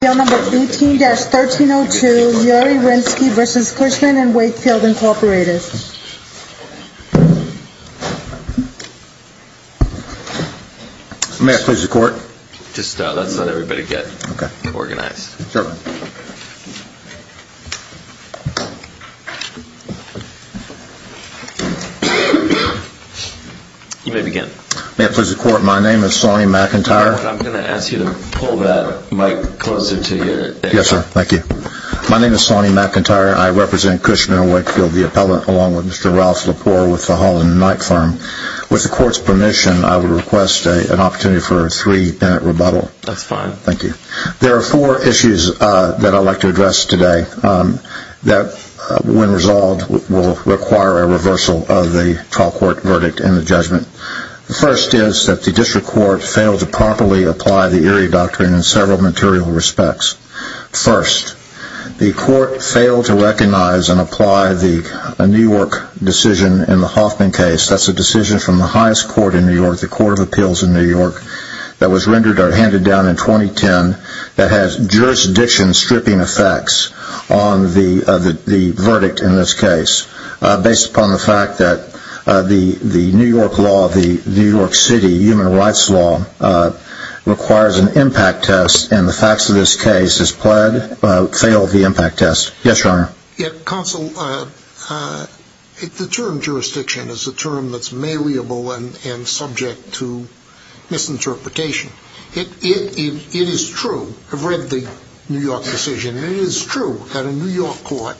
May I please record? Just let everybody get organized. May I please record? My name is Sonny McIntyre. I represent Cushman & Wakefield, the appellant, along with Mr. Ralph Lepore with the Holland & Knight firm. With the court's permission, I would request an opportunity for a three-minute rebuttal. That's fine. Thank you. There are four issues that I'd like to address today that, when resolved, will require a reversal of the trial court verdict in the judgment. The first is that the district court failed to properly apply the Erie Doctrine in several material respects. First, the court failed to recognize and apply the New York decision in the Hoffman case. That's a decision from the highest court in New York, the Court of Appeals in New York, that was handed down in 2010 that has jurisdiction-stripping effects on the verdict in this case based upon the fact that the New York law, the New York City human rights law, requires an impact test, and the facts of this case has failed the impact test. Yes, Your Honor. Counsel, the term jurisdiction is a term that's malleable and subject to misinterpretation. It is true. I've read the New York decision, and it is true that a New York court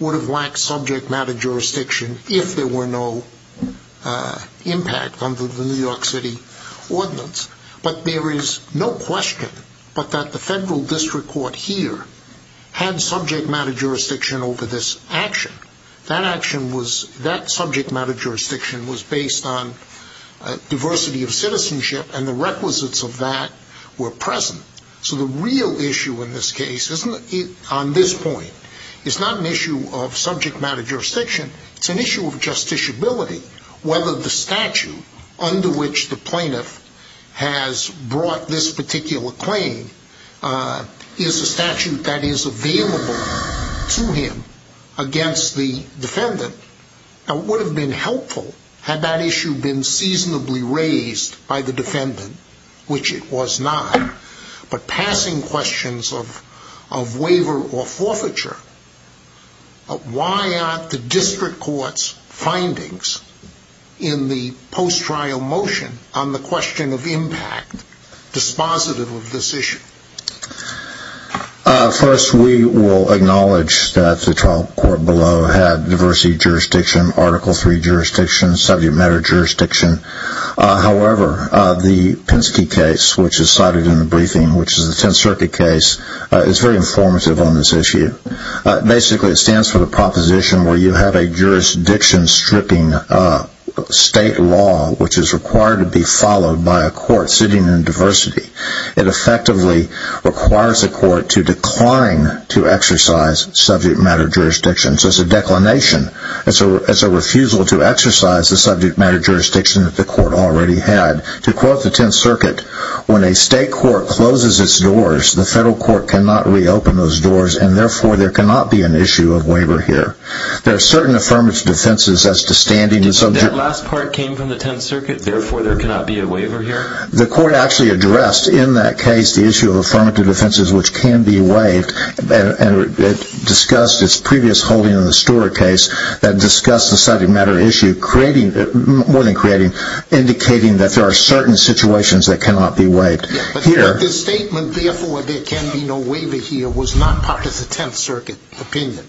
would have lacked subject matter jurisdiction if there were no impact under the New York City ordinance. But there is no question but that the federal district court here had subject matter jurisdiction over this action. That action was, that subject matter jurisdiction was based on diversity of citizenship, and the requisites of that were present. So the real issue in this case, on this point, is not an issue of subject matter jurisdiction. It's an issue of justiciability, whether the statute under which the plaintiff has brought this particular claim is a statute that is available to him against the defendant. It would have been helpful had that issue been seasonably raised by the defendant, which it was not. But passing questions of waiver or forfeiture, why aren't the district court's findings in the post-trial motion on the question of impact dispositive of this issue? First, we will acknowledge that the trial court below had diversity of jurisdiction, Article III jurisdiction, subject matter jurisdiction. However, the Penske case, which is cited in the briefing, which is the Tenth Circuit case, is very informative on this issue. Basically, it stands for the proposition where you have a jurisdiction-stripping state law, which is required to be followed by a court sitting in diversity. It effectively requires the court to decline to exercise subject matter jurisdiction. So it's a declination. It's a refusal to exercise the subject matter jurisdiction that the court already had. To quote the Tenth Circuit, when a state court closes its doors, the federal court cannot reopen those doors, and therefore there cannot be an issue of waiver here. There are certain affirmative defenses as to standing... That last part came from the Tenth Circuit, therefore there cannot be a waiver here? The court actually addressed in that case the issue of affirmative defenses, which can be waived, and discussed its previous holding in the Storer case that discussed the subject matter issue, indicating that there are certain situations that cannot be waived. But the statement, therefore there can be no waiver here, was not part of the Tenth Circuit opinion?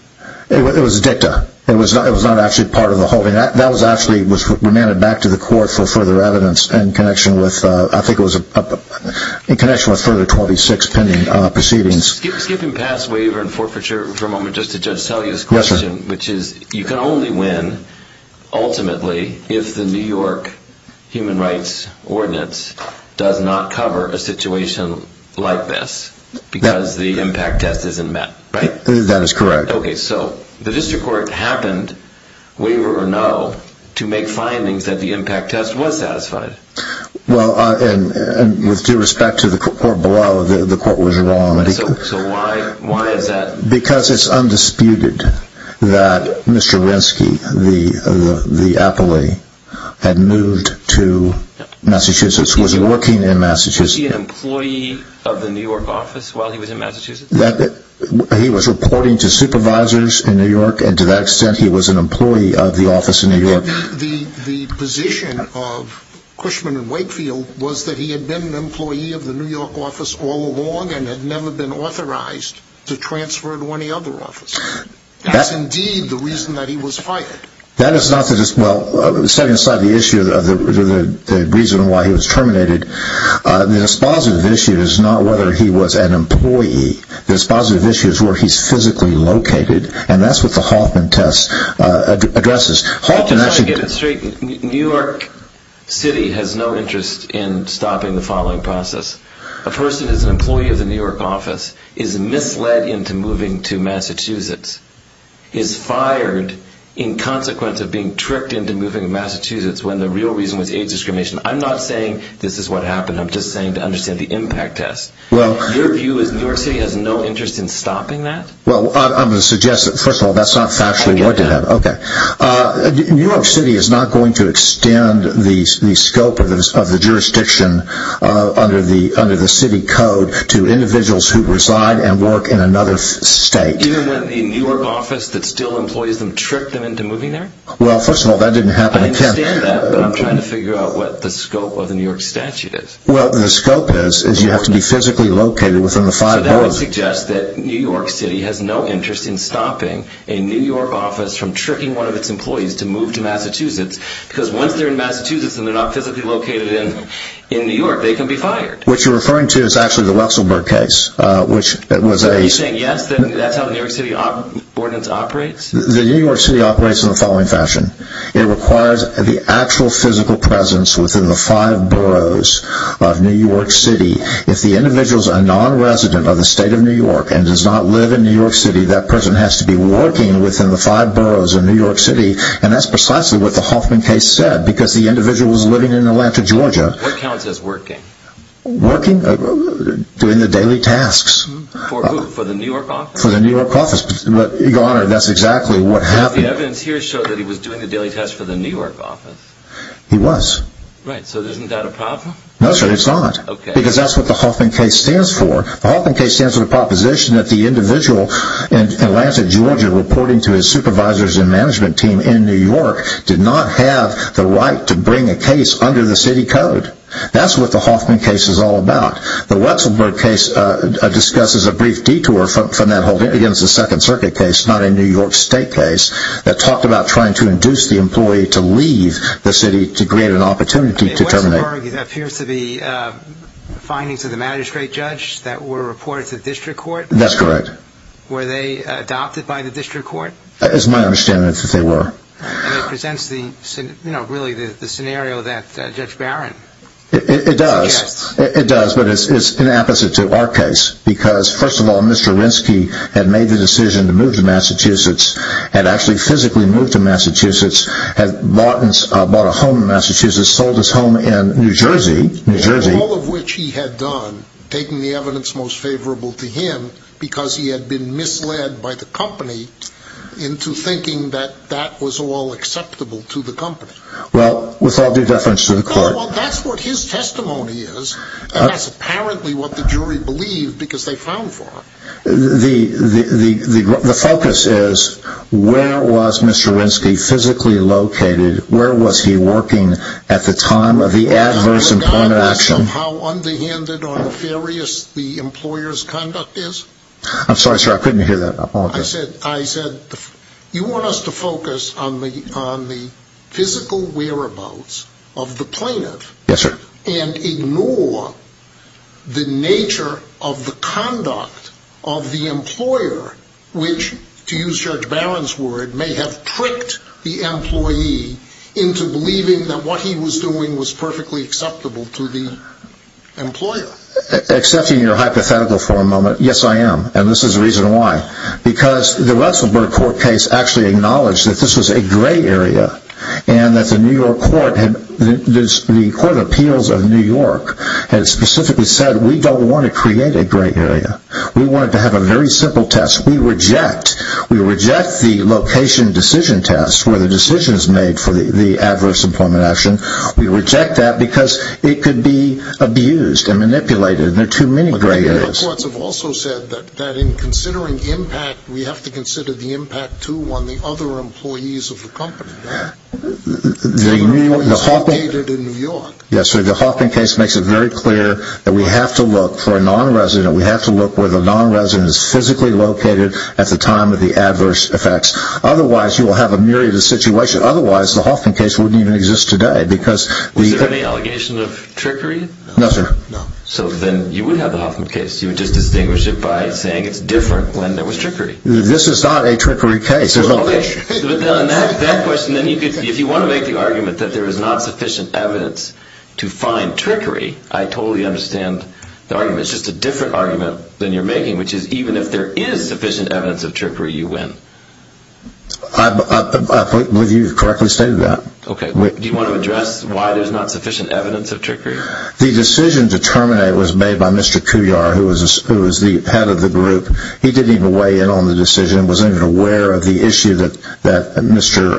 It was a dicta. It was not actually part of the holding. That was actually remanded back to the court for further evidence in connection with further 26 pending proceedings. Skipping past waiver and forfeiture for a moment, just to just tell you this question, which is you can only win ultimately if the New York Human Rights Ordinance does not cover a situation like this, because the impact test isn't met, right? That is correct. Okay, so the district court happened, waiver or no, to make findings that the impact test was satisfied. Well, and with due respect to the court below, the court was wrong. So why is that? Because it's undisputed that Mr. Renske, the appellee, had moved to Massachusetts, was working in Massachusetts. Was he an employee of the New York office while he was in Massachusetts? He was reporting to supervisors in New York, and to that extent he was an employee of the office in New York. The position of Cushman and Wakefield was that he had been an employee of the New York office all along and had never been authorized to transfer to any other office. That's indeed the reason that he was fired. That is not to just, well, setting aside the issue of the reason why he was terminated, the dispositive issue is not whether he was an employee. The dispositive issue is where he's physically located, and that's what the Hoffman test addresses. Just to get it straight, New York City has no interest in stopping the filing process. A person who is an employee of the New York office is misled into moving to Massachusetts, is fired in consequence of being tricked into moving to Massachusetts when the real reason was age discrimination. I'm not saying this is what happened. I'm just saying to understand the impact test. Your view is New York City has no interest in stopping that? Well, I'm going to suggest that, first of all, that's not factually what did happen. New York City is not going to extend the scope of the jurisdiction under the city code to individuals who reside and work in another state. Even when the New York office that still employs them tricked them into moving there? Well, first of all, that didn't happen. I understand that, but I'm trying to figure out what the scope of the New York statute is. Well, the scope is you have to be physically located within the five borders. I would suggest that New York City has no interest in stopping a New York office from tricking one of its employees to move to Massachusetts, because once they're in Massachusetts and they're not physically located in New York, they can be fired. What you're referring to is actually the Russellburg case. Are you saying, yes, that's how the New York City ordinance operates? The New York City operates in the following fashion. It requires the actual physical presence within the five boroughs of New York City. If the individual is a non-resident of the state of New York and does not live in New York City, that person has to be working within the five boroughs of New York City, and that's precisely what the Hoffman case said, because the individual was living in Atlanta, Georgia. What counts as working? Working? Doing the daily tasks. For who? For the New York office? For the New York office. Your Honor, that's exactly what happened. Because the evidence here showed that he was doing the daily tasks for the New York office. He was. Right. So isn't that a problem? No, sir, it's not. Because that's what the Hoffman case stands for. The Hoffman case stands for the proposition that the individual in Atlanta, Georgia, reporting to his supervisors and management team in New York, did not have the right to bring a case under the city code. That's what the Hoffman case is all about. The Russellburg case discusses a brief detour from that whole thing. Again, it's a Second Circuit case, not a New York State case, that talked about trying to induce the employee to leave the city to create an opportunity to terminate. The Russellburg case appears to be findings of the magistrate judge that were reported to district court. That's correct. Were they adopted by the district court? It's my understanding that they were. And it presents really the scenario that Judge Barron suggests. It does, but it's an opposite to our case. Because, first of all, Mr. Rinsky had made the decision to move to Massachusetts, had actually physically moved to Massachusetts, had bought a home in Massachusetts, sold his home in New Jersey. All of which he had done, taking the evidence most favorable to him, because he had been misled by the company into thinking that that was all acceptable to the company. Well, with all due deference to the court. Well, that's what his testimony is. And that's apparently what the jury believed because they found for him. The focus is, where was Mr. Rinsky physically located? Where was he working at the time of the adverse employment action? Do you have an idea of how underhanded or nefarious the employer's conduct is? I'm sorry, sir, I couldn't hear that. I said, you want us to focus on the physical whereabouts of the plaintiff. Yes, sir. And ignore the nature of the conduct of the employer, which, to use Judge Barron's word, may have tricked the employee into believing that what he was doing was perfectly acceptable to the employer. Accepting your hypothetical for a moment, yes, I am. And this is the reason why. Because the Russellburg Court case actually acknowledged that this was a gray area and that the New York Court of Appeals of New York had specifically said, we don't want to create a gray area. We want to have a very simple test. We reject. We reject the location decision test where the decision is made for the adverse employment action. We reject that because it could be abused and manipulated. There are too many gray areas. The courts have also said that in considering impact, we have to consider the impact, too, on the other employees of the company. The Hoffman case makes it very clear that we have to look for a nonresident. We have to look where the nonresident is physically located at the time of the adverse effects. Otherwise, you will have a myriad of situations. Otherwise, the Hoffman case wouldn't even exist today. Was there any allegation of trickery? No, sir. No. So then you would have the Hoffman case. You would just distinguish it by saying it's different when there was trickery. This is not a trickery case. There's no trickery. Okay, but then on that question, if you want to make the argument that there is not sufficient evidence to find trickery, I totally understand the argument. It's just a different argument than you're making, which is even if there is sufficient evidence of trickery, you win. I believe you correctly stated that. Okay. Do you want to address why there's not sufficient evidence of trickery? The decision to terminate was made by Mr. Couillard, who was the head of the group. He didn't even weigh in on the decision and wasn't even aware of the issue that Mr.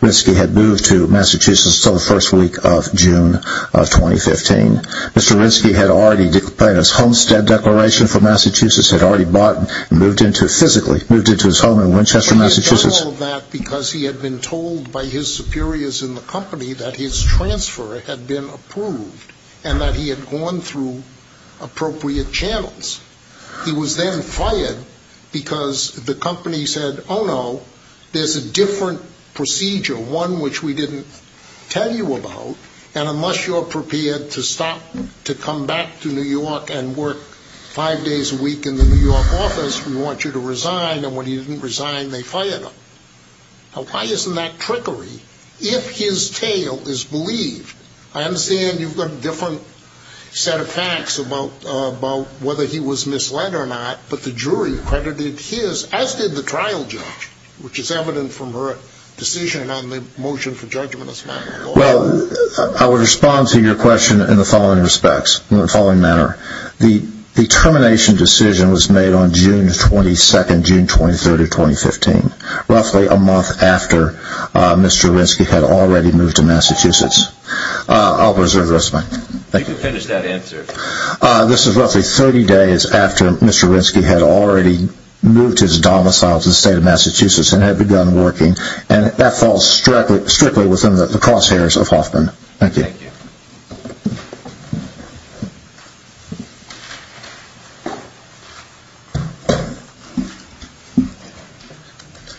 Ritsky had moved to Massachusetts until the first week of June of 2015. Mr. Ritsky had already declared his homestead declaration for Massachusetts, had already bought and moved into physically, moved into his home in Winchester, Massachusetts. He had done all of that because he had been told by his superiors in the company that his transfer had been approved and that he had gone through appropriate channels. He was then fired because the company said, oh, no, there's a different procedure, one which we didn't tell you about, and unless you're prepared to stop, to come back to New York and work five days a week in the New York office, we want you to resign. And when he didn't resign, they fired him. Now, why isn't that trickery? If his tale is believed, I understand you've got a different set of facts about whether he was misled or not, but the jury credited his, as did the trial judge, which is evident from her decision on the motion for judgment as a matter of law. Well, I would respond to your question in the following respects, in the following manner. The termination decision was made on June 22nd, June 23rd of 2015, roughly a month after Mr. Rinsky had already moved to Massachusetts. I'll reserve the rest of my time. You can finish that answer. This is roughly 30 days after Mr. Rinsky had already moved to his domicile to the state of Massachusetts and had begun working, and that falls strictly within the crosshairs of Hoffman. Thank you.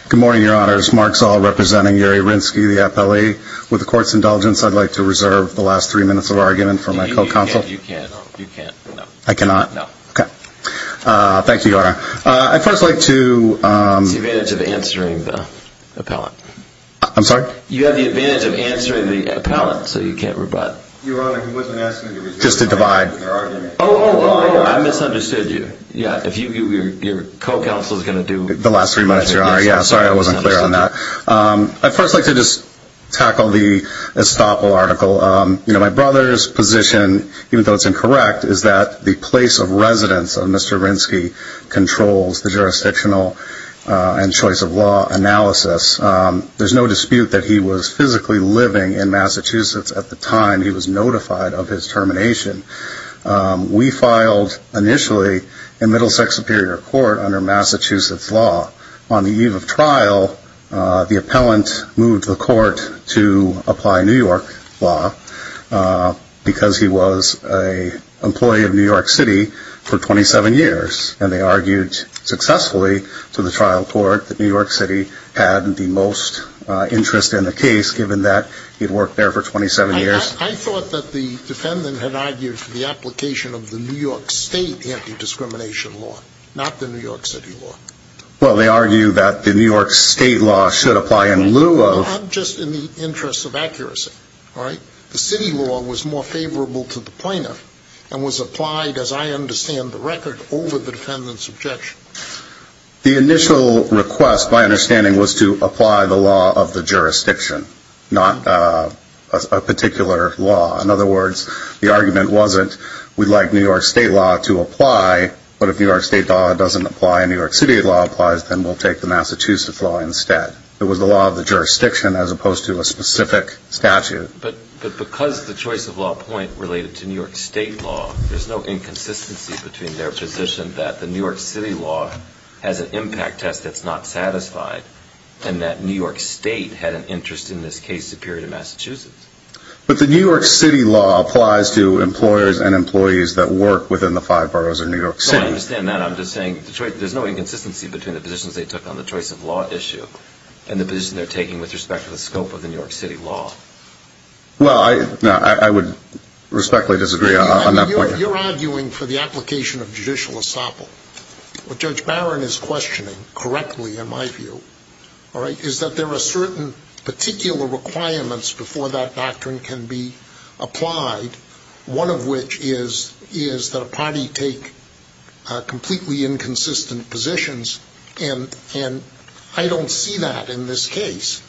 Good morning, Your Honors. Mark Zoll representing Uri Rinsky, the appellee. With the court's indulgence, I'd like to reserve the last three minutes of argument for my co-counsel. You can't. You can't. I cannot? No. Okay. Thank you, Your Honor. I'd first like to… It's the advantage of answering the appellate. I'm sorry? You have the advantage of answering the appellate, so you can't repeat the question. Your Honor, he wasn't asking me to reserve my time for argument. Oh, I misunderstood you. Your co-counsel is going to do… The last three minutes, Your Honor. Sorry, I wasn't clear on that. I'd first like to just tackle the estoppel article. My brother's position, even though it's incorrect, is that the place of residence of Mr. Rinsky controls the jurisdictional and choice of law analysis. There's no dispute that he was physically living in Massachusetts at the time he was notified of his termination. We filed initially in Middlesex Superior Court under Massachusetts law. On the eve of trial, the appellant moved to the court to apply New York law because he was an employee of New York City for 27 years, and they argued successfully to the trial court that New York City had the most interest in the case, given that he'd worked there for 27 years. I thought that the defendant had argued for the application of the New York State anti-discrimination law, not the New York City law. Well, they argue that the New York State law should apply in lieu of… Not just in the interest of accuracy, all right? The city law was more favorable to the plaintiff and was applied, as I understand the record, over the defendant's objection. The initial request, my understanding, was to apply the law of the jurisdiction, not a particular law. In other words, the argument wasn't we'd like New York State law to apply, but if New York State law doesn't apply and New York City law applies, then we'll take the Massachusetts law instead. It was the law of the jurisdiction as opposed to a specific statute. But because the choice of law point related to New York State law, there's no inconsistency between their position that the New York City law has an impact test that's not satisfied and that New York State had an interest in this case superior to Massachusetts. But the New York City law applies to employers and employees that work within the five boroughs of New York City. No, I understand that. I'm just saying there's no inconsistency between the positions they took on the choice of law issue and the position they're taking with respect to the scope of the New York City law. Well, I would respectfully disagree on that point. You're arguing for the application of judicial assemble. What Judge Barron is questioning correctly, in my view, is that there are certain particular requirements before that doctrine can be applied, one of which is that a party take completely inconsistent positions. And I don't see that in this case.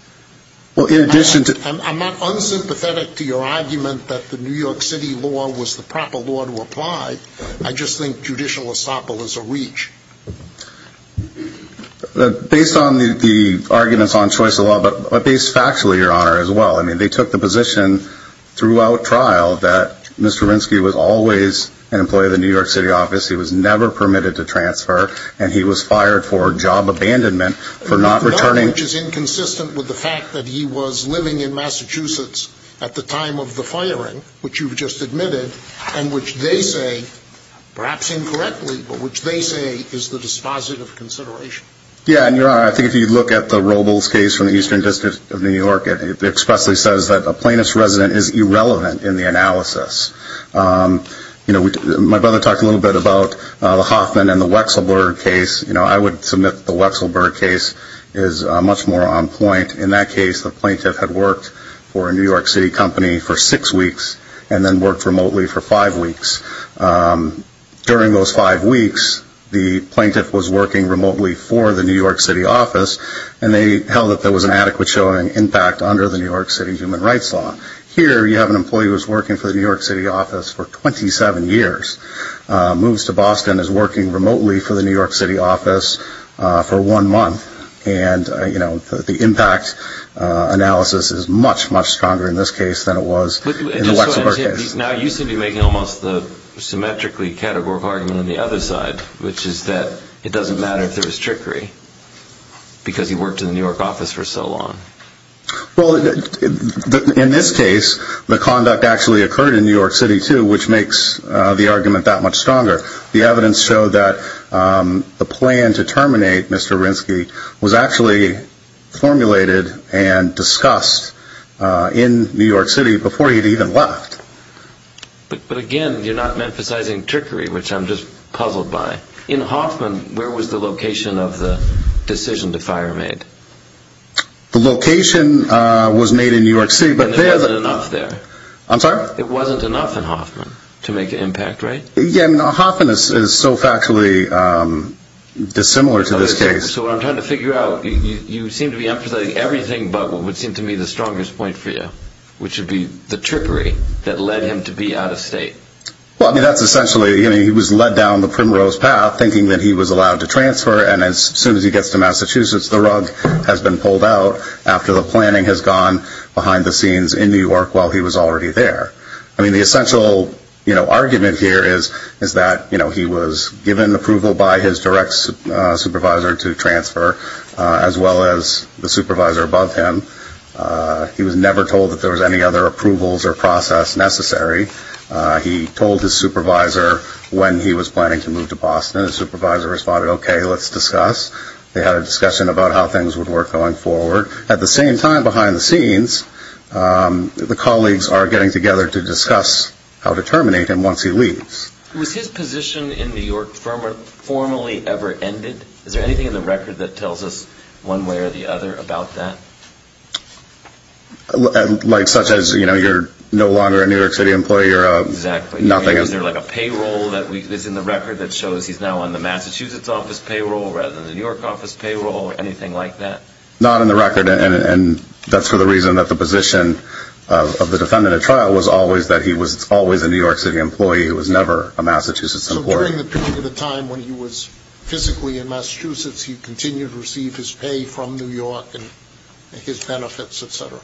I'm not unsympathetic to your argument that the New York City law was the proper law to apply. I just think judicial assemble is a reach. Based on the arguments on choice of law, but based factually, Your Honor, as well, they took the position throughout trial that Mr. Rinsky was always an employee of the New York City office. He was never permitted to transfer, and he was fired for job abandonment for not returning. Which is inconsistent with the fact that he was living in Massachusetts at the time of the firing, which you've just admitted, and which they say, perhaps incorrectly, but which they say is the dispositive consideration. Yeah, and Your Honor, I think if you look at the Robles case from the Eastern District of New York, it expressly says that a plaintiff's resident is irrelevant in the analysis. You know, my brother talked a little bit about the Hoffman and the Wechselberg case. You know, I would submit the Wechselberg case is much more on point. In that case, the plaintiff had worked for a New York City company for six weeks and then worked remotely for five weeks. During those five weeks, the plaintiff was working remotely for the New York City office, and they held that there was an adequate showing impact under the New York City human rights law. Here, you have an employee who was working for the New York City office for 27 years, moves to Boston, is working remotely for the New York City office for one month, and, you know, the impact analysis is much, much stronger in this case than it was in the Wechselberg case. Now, you seem to be making almost the symmetrically categorical argument on the other side, which is that it doesn't matter if there was trickery because he worked in the New York office for so long. Well, in this case, the conduct actually occurred in New York City, too, which makes the argument that much stronger. The evidence showed that the plan to terminate Mr. Rinsky was actually formulated and discussed in New York City before he had even left. But, again, you're not emphasizing trickery, which I'm just puzzled by. In Hoffman, where was the location of the decision to fire him? The location was made in New York City. And there wasn't enough there. I'm sorry? There wasn't enough in Hoffman to make an impact, right? Yeah, Hoffman is so factually dissimilar to this case. So what I'm trying to figure out, you seem to be emphasizing everything but what would seem to me the strongest point for you, which would be the trickery that led him to be out of state. Well, I mean, that's essentially, you know, he was led down the primrose path, thinking that he was allowed to transfer, and as soon as he gets to Massachusetts, the rug has been pulled out after the planning has gone behind the scenes in New York while he was already there. I mean, the essential, you know, argument here is that, you know, he was given approval by his direct supervisor to transfer, as well as the supervisor above him. He was never told that there was any other approvals or process necessary. He told his supervisor when he was planning to move to Boston, and his supervisor responded, okay, let's discuss. They had a discussion about how things would work going forward. At the same time, behind the scenes, the colleagues are getting together to discuss how to terminate him once he leaves. Was his position in New York formally ever ended? Is there anything in the record that tells us one way or the other about that? Like such as, you know, you're no longer a New York City employee or nothing. Exactly. Is there like a payroll that is in the record that shows he's now on the Massachusetts office payroll rather than the New York office payroll or anything like that? Not in the record, and that's for the reason that the position of the defendant at trial was always that he was always a New York City employee. He was never a Massachusetts employee. So during the period of time when he was physically in Massachusetts, he continued to receive his pay from New York and his benefits, et cetera.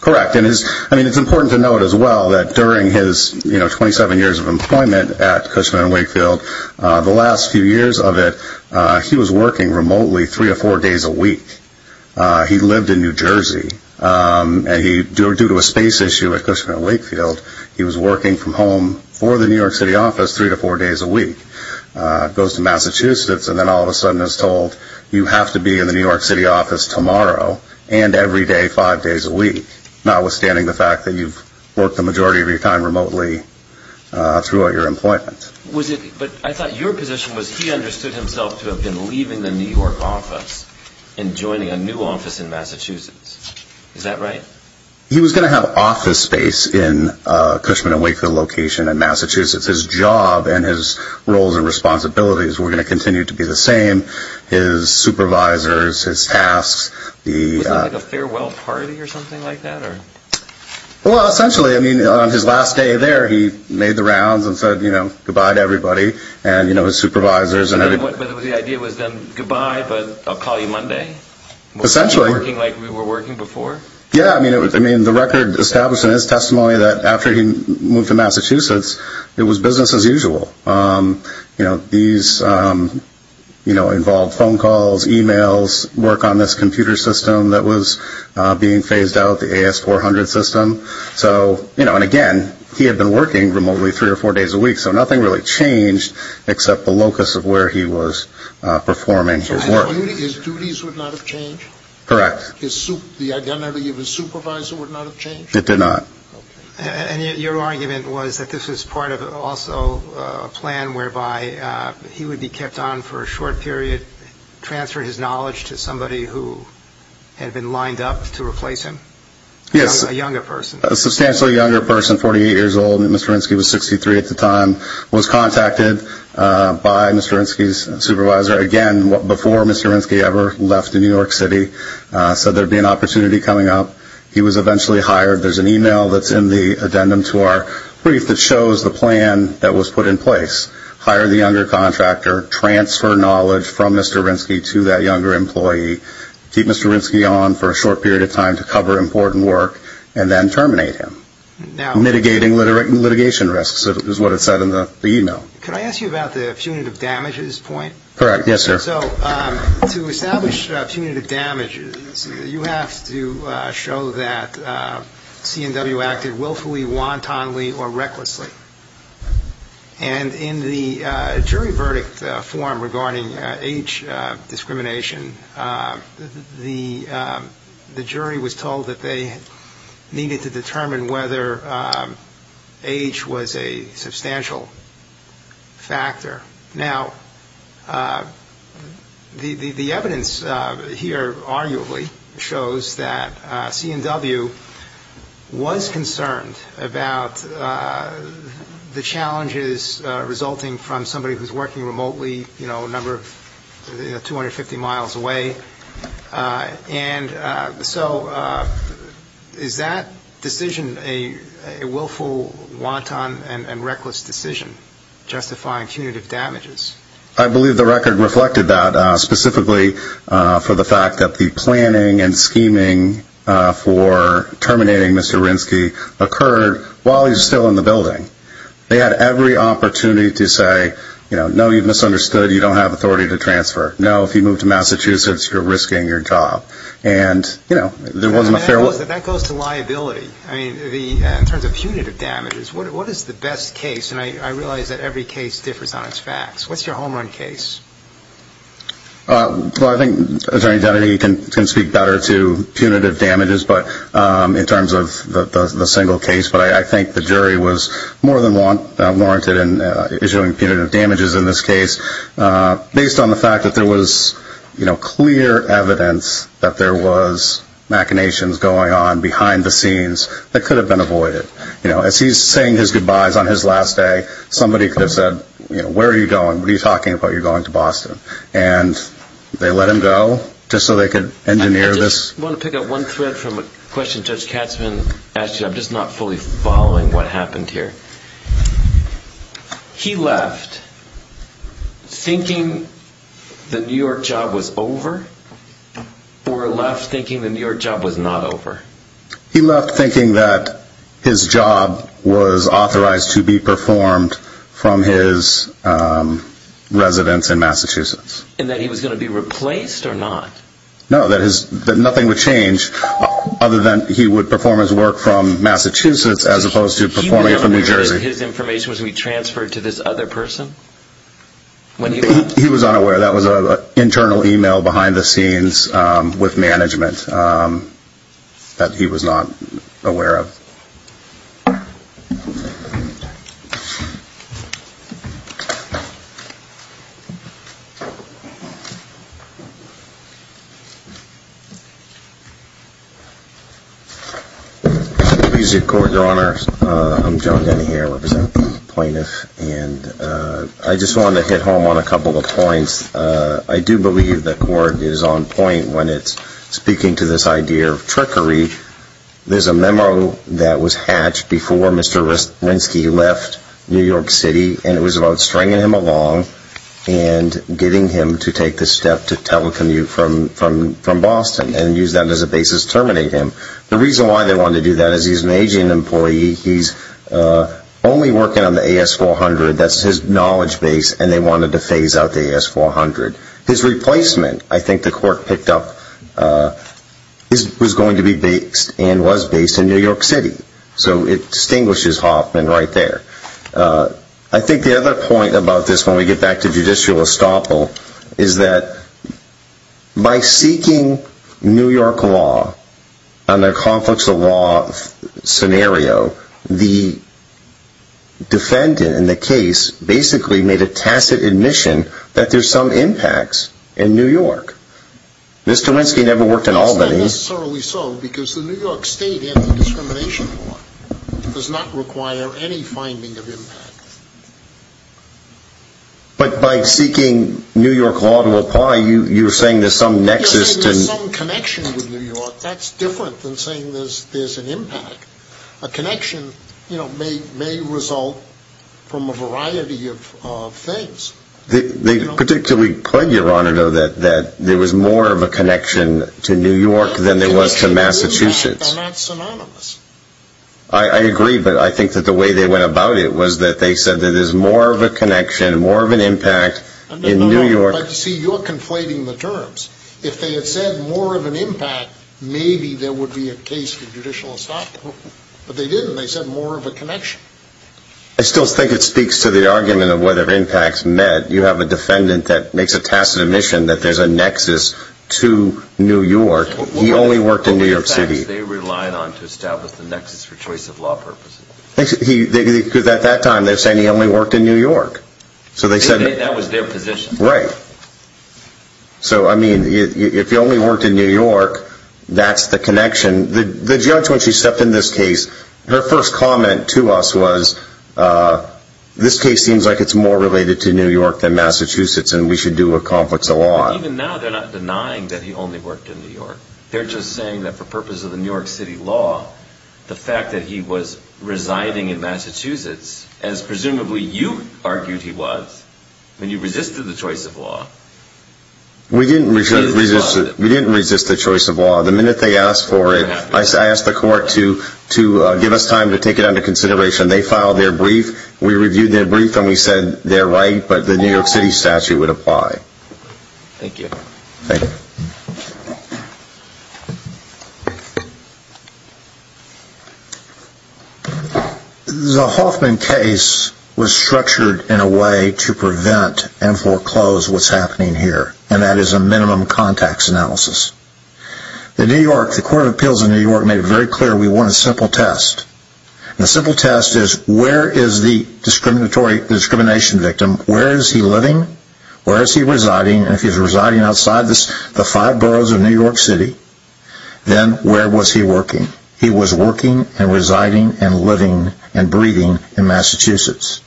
Correct. I mean, it's important to note as well that during his, you know, 27 years of employment at Cushman & Wakefield, the last few years of it, he was working remotely three or four days a week. He lived in New Jersey, and due to a space issue at Cushman & Wakefield, he was working from home for the New York City office three to four days a week. Goes to Massachusetts and then all of a sudden is told, you have to be in the New York City office tomorrow and every day five days a week, notwithstanding the fact that you've worked the majority of your time remotely throughout your employment. But I thought your position was he understood himself to have been leaving the New York office and joining a new office in Massachusetts. Is that right? He was going to have office space in Cushman & Wakefield location in Massachusetts. His job and his roles and responsibilities were going to continue to be the same. His supervisors, his tasks. Was it like a farewell party or something like that? Well, essentially, I mean, on his last day there, he made the rounds and said, you know, goodbye to everybody and, you know, his supervisors and everybody. But the idea was then goodbye, but I'll call you Monday? Essentially. Working like we were working before? It was business as usual. You know, these, you know, involved phone calls, e-mails, work on this computer system that was being phased out, the AS400 system. So, you know, and again, he had been working remotely three or four days a week, so nothing really changed except the locus of where he was performing his work. So his duties would not have changed? Correct. The identity of his supervisor would not have changed? It did not. And your argument was that this was part of also a plan whereby he would be kept on for a short period, transfer his knowledge to somebody who had been lined up to replace him? Yes. A younger person? A substantially younger person, 48 years old. Mr. Rinske was 63 at the time. Was contacted by Mr. Rinske's supervisor, again, before Mr. Rinske ever left New York City. Said there would be an opportunity coming up. He was eventually hired. There's an e-mail that's in the addendum to our brief that shows the plan that was put in place. Hire the younger contractor, transfer knowledge from Mr. Rinske to that younger employee, keep Mr. Rinske on for a short period of time to cover important work, and then terminate him. Mitigating litigation risks is what it said in the e-mail. Can I ask you about the punitive damages point? Correct. Yes, sir. So to establish punitive damages, you have to show that C&W acted willfully, wantonly, or recklessly. And in the jury verdict form regarding age discrimination, the jury was told that they needed to determine whether age was a substantial factor. Now, the evidence here arguably shows that C&W was concerned about the challenges resulting from somebody who's working remotely, you know, a number of 250 miles away. And so is that decision a willful, wanton, and reckless decision, justifying punitive damages? I believe the record reflected that specifically for the fact that the planning and scheming for terminating Mr. Rinske occurred while he was still in the building. They had every opportunity to say, you know, no, you've misunderstood. You don't have authority to transfer. No, if you move to Massachusetts, you're risking your job. And, you know, there wasn't a fair way. That goes to liability. I mean, in terms of punitive damages, what is the best case? And I realize that every case differs on its facts. What's your home run case? Well, I think Attorney Kennedy can speak better to punitive damages in terms of the single case, but I think the jury was more than warranted in issuing punitive damages in this case based on the fact that there was, you know, clear evidence that there was machinations going on behind the scenes that could have been avoided. You know, as he's saying his goodbyes on his last day, somebody could have said, you know, where are you going? What are you talking about? You're going to Boston. And they let him go just so they could engineer this. I just want to pick up one thread from a question Judge Katzman asked you. I'm just not fully following what happened here. He left thinking the New York job was over or left thinking the New York job was not over? He left thinking that his job was authorized to be performed from his residence in Massachusetts. And that he was going to be replaced or not? No, that nothing would change other than he would perform his work from Massachusetts as opposed to performing it from New Jersey. He was unaware that his information was going to be transferred to this other person? He was unaware. That was an internal email behind the scenes with management that he was not aware of. Thank you. Music Court, Your Honor. I'm John Denny here, representing the plaintiff. And I just wanted to hit home on a couple of points. I do believe the court is on point when it's speaking to this idea of trickery. There's a memo that was hatched before Mr. Rinsky left New York City. And it was about stringing him along and getting him to take the step to telecommute from Boston and use that as a basis to terminate him. The reason why they wanted to do that is he's an aging employee. He's only working on the AS-400. That's his knowledge base. And they wanted to phase out the AS-400. His replacement, I think the court picked up, was going to be based and was based in New York City. So it distinguishes Hoffman right there. I think the other point about this, when we get back to judicial estoppel, is that by seeking New York law under conflicts of law scenario, the defendant in the case basically made a tacit admission that there's some impacts in New York. Mr. Rinsky never worked in Albany. That's not necessarily so, because the New York State Anti-Discrimination Law does not require any finding of impact. But by seeking New York law to apply, you're saying there's some nexus. You're saying there's some connection with New York. That's different than saying there's an impact. A connection may result from a variety of things. They particularly point, Your Honor, though, that there was more of a connection to New York than there was to Massachusetts. They're not synonymous. I agree, but I think that the way they went about it was that they said that there's more of a connection, more of an impact in New York. No, no, no. See, you're conflating the terms. If they had said more of an impact, maybe there would be a case for judicial assault. But they didn't. They said more of a connection. I still think it speaks to the argument of whether impacts met. You have a defendant that makes a tacit admission that there's a nexus to New York. He only worked in New York City. What were the facts they relied on to establish the nexus for choice of law purposes? Because at that time, they're saying he only worked in New York. That was their position. Right. So, I mean, if he only worked in New York, that's the connection. The judge, when she stepped in this case, her first comment to us was, this case seems like it's more related to New York than Massachusetts, and we should do what conflicts the law. Even now, they're not denying that he only worked in New York. They're just saying that for purposes of the New York City law, the fact that he was residing in Massachusetts, as presumably you argued he was when you resisted the choice of law. We didn't resist the choice of law. The minute they asked for it, I asked the court to give us time to take it under consideration. They filed their brief. We reviewed their brief, and we said they're right, but the New York City statute would apply. Thank you. Thank you. Thank you. The Hoffman case was structured in a way to prevent and foreclose what's happening here, and that is a minimum contacts analysis. The New York, the Court of Appeals in New York made it very clear we want a simple test. The simple test is, where is the discrimination victim? Where is he living? Where is he residing? If he's residing outside the five boroughs of New York City, then where was he working? He was working and residing and living and breathing in Massachusetts.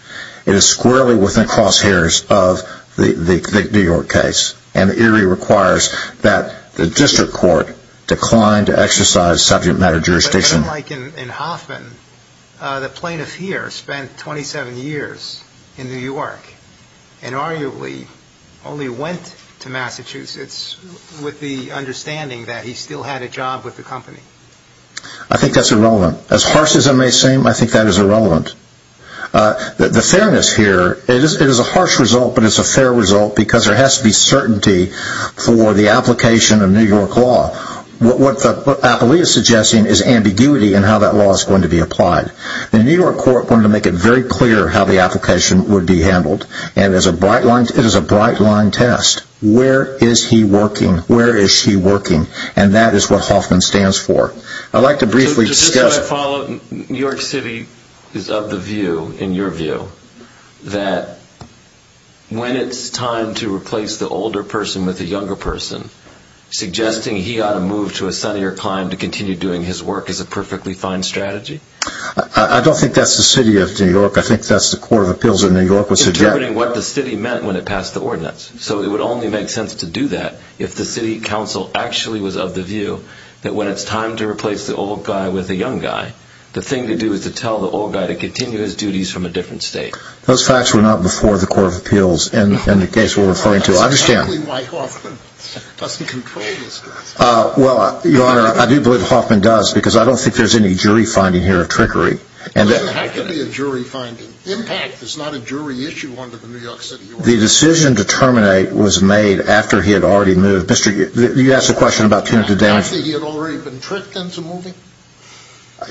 It is squarely within crosshairs of the New York case, and it requires that the district court decline to exercise subject matter jurisdiction. Unlike in Hoffman, the plaintiff here spent 27 years in New York and arguably only went to Massachusetts with the understanding that he still had a job with the company. I think that's irrelevant. As harsh as it may seem, I think that is irrelevant. The fairness here, it is a harsh result, but it's a fair result because there has to be certainty for the application of New York law. What the appellee is suggesting is ambiguity in how that law is going to be applied. The New York court wanted to make it very clear how the application would be handled, and it is a bright line test. Where is he working? Where is she working? And that is what Hoffman stands for. I'd like to briefly discuss... Just so I follow, New York City is of the view, in your view, that when it's time to replace the older person with the younger person, suggesting he ought to move to a sunnier clime to continue doing his work is a perfectly fine strategy? I don't think that's the City of New York. I think that's the Court of Appeals of New York. Interpreting what the City meant when it passed the ordinance. So it would only make sense to do that if the City Council actually was of the view that when it's time to replace the old guy with the young guy, the thing to do is to tell the old guy to continue his duties from a different state. Those facts were not before the Court of Appeals in the case we're referring to. That's exactly why Hoffman doesn't control this case. Well, Your Honor, I do believe Hoffman does because I don't think there's any jury finding here of trickery. It doesn't have to be a jury finding. Impact is not a jury issue under the New York City ordinance. The decision to terminate was made after he had already moved. You asked a question about punitive damage. After he had already been tricked into moving?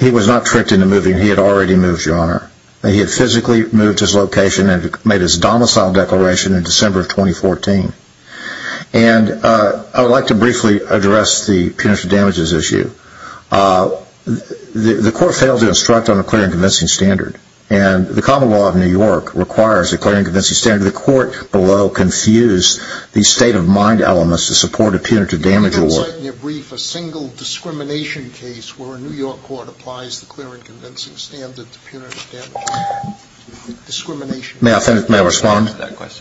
He was not tricked into moving. He had already moved, Your Honor. He had physically moved to his location and made his domicile declaration in December of 2014. And I would like to briefly address the punitive damages issue. The Court failed to instruct on a clear and convincing standard. And the common law of New York requires a clear and convincing standard. The Court below confused the state of mind elements to support a punitive damage award. Can you cite in your brief a single discrimination case where a New York court applies the clear and convincing standard to punitive damages? May I respond?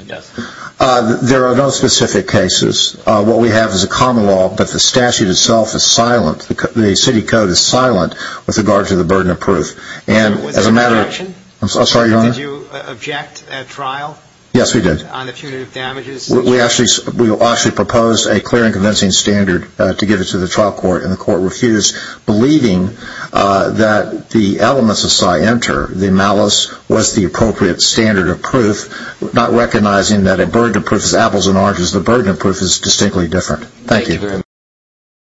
Yes. There are no specific cases. What we have is a common law, but the statute itself is silent. The city code is silent with regard to the burden of proof. Was there a correction? I'm sorry, Your Honor? Did you object at trial? Yes, we did. We actually proposed a clear and convincing standard to give it to the trial court, and the court refused, believing that the elements of Psy Enter, the malice, was the appropriate standard of proof, not recognizing that a burden of proof is apples and oranges. The burden of proof is distinctly different. Thank you.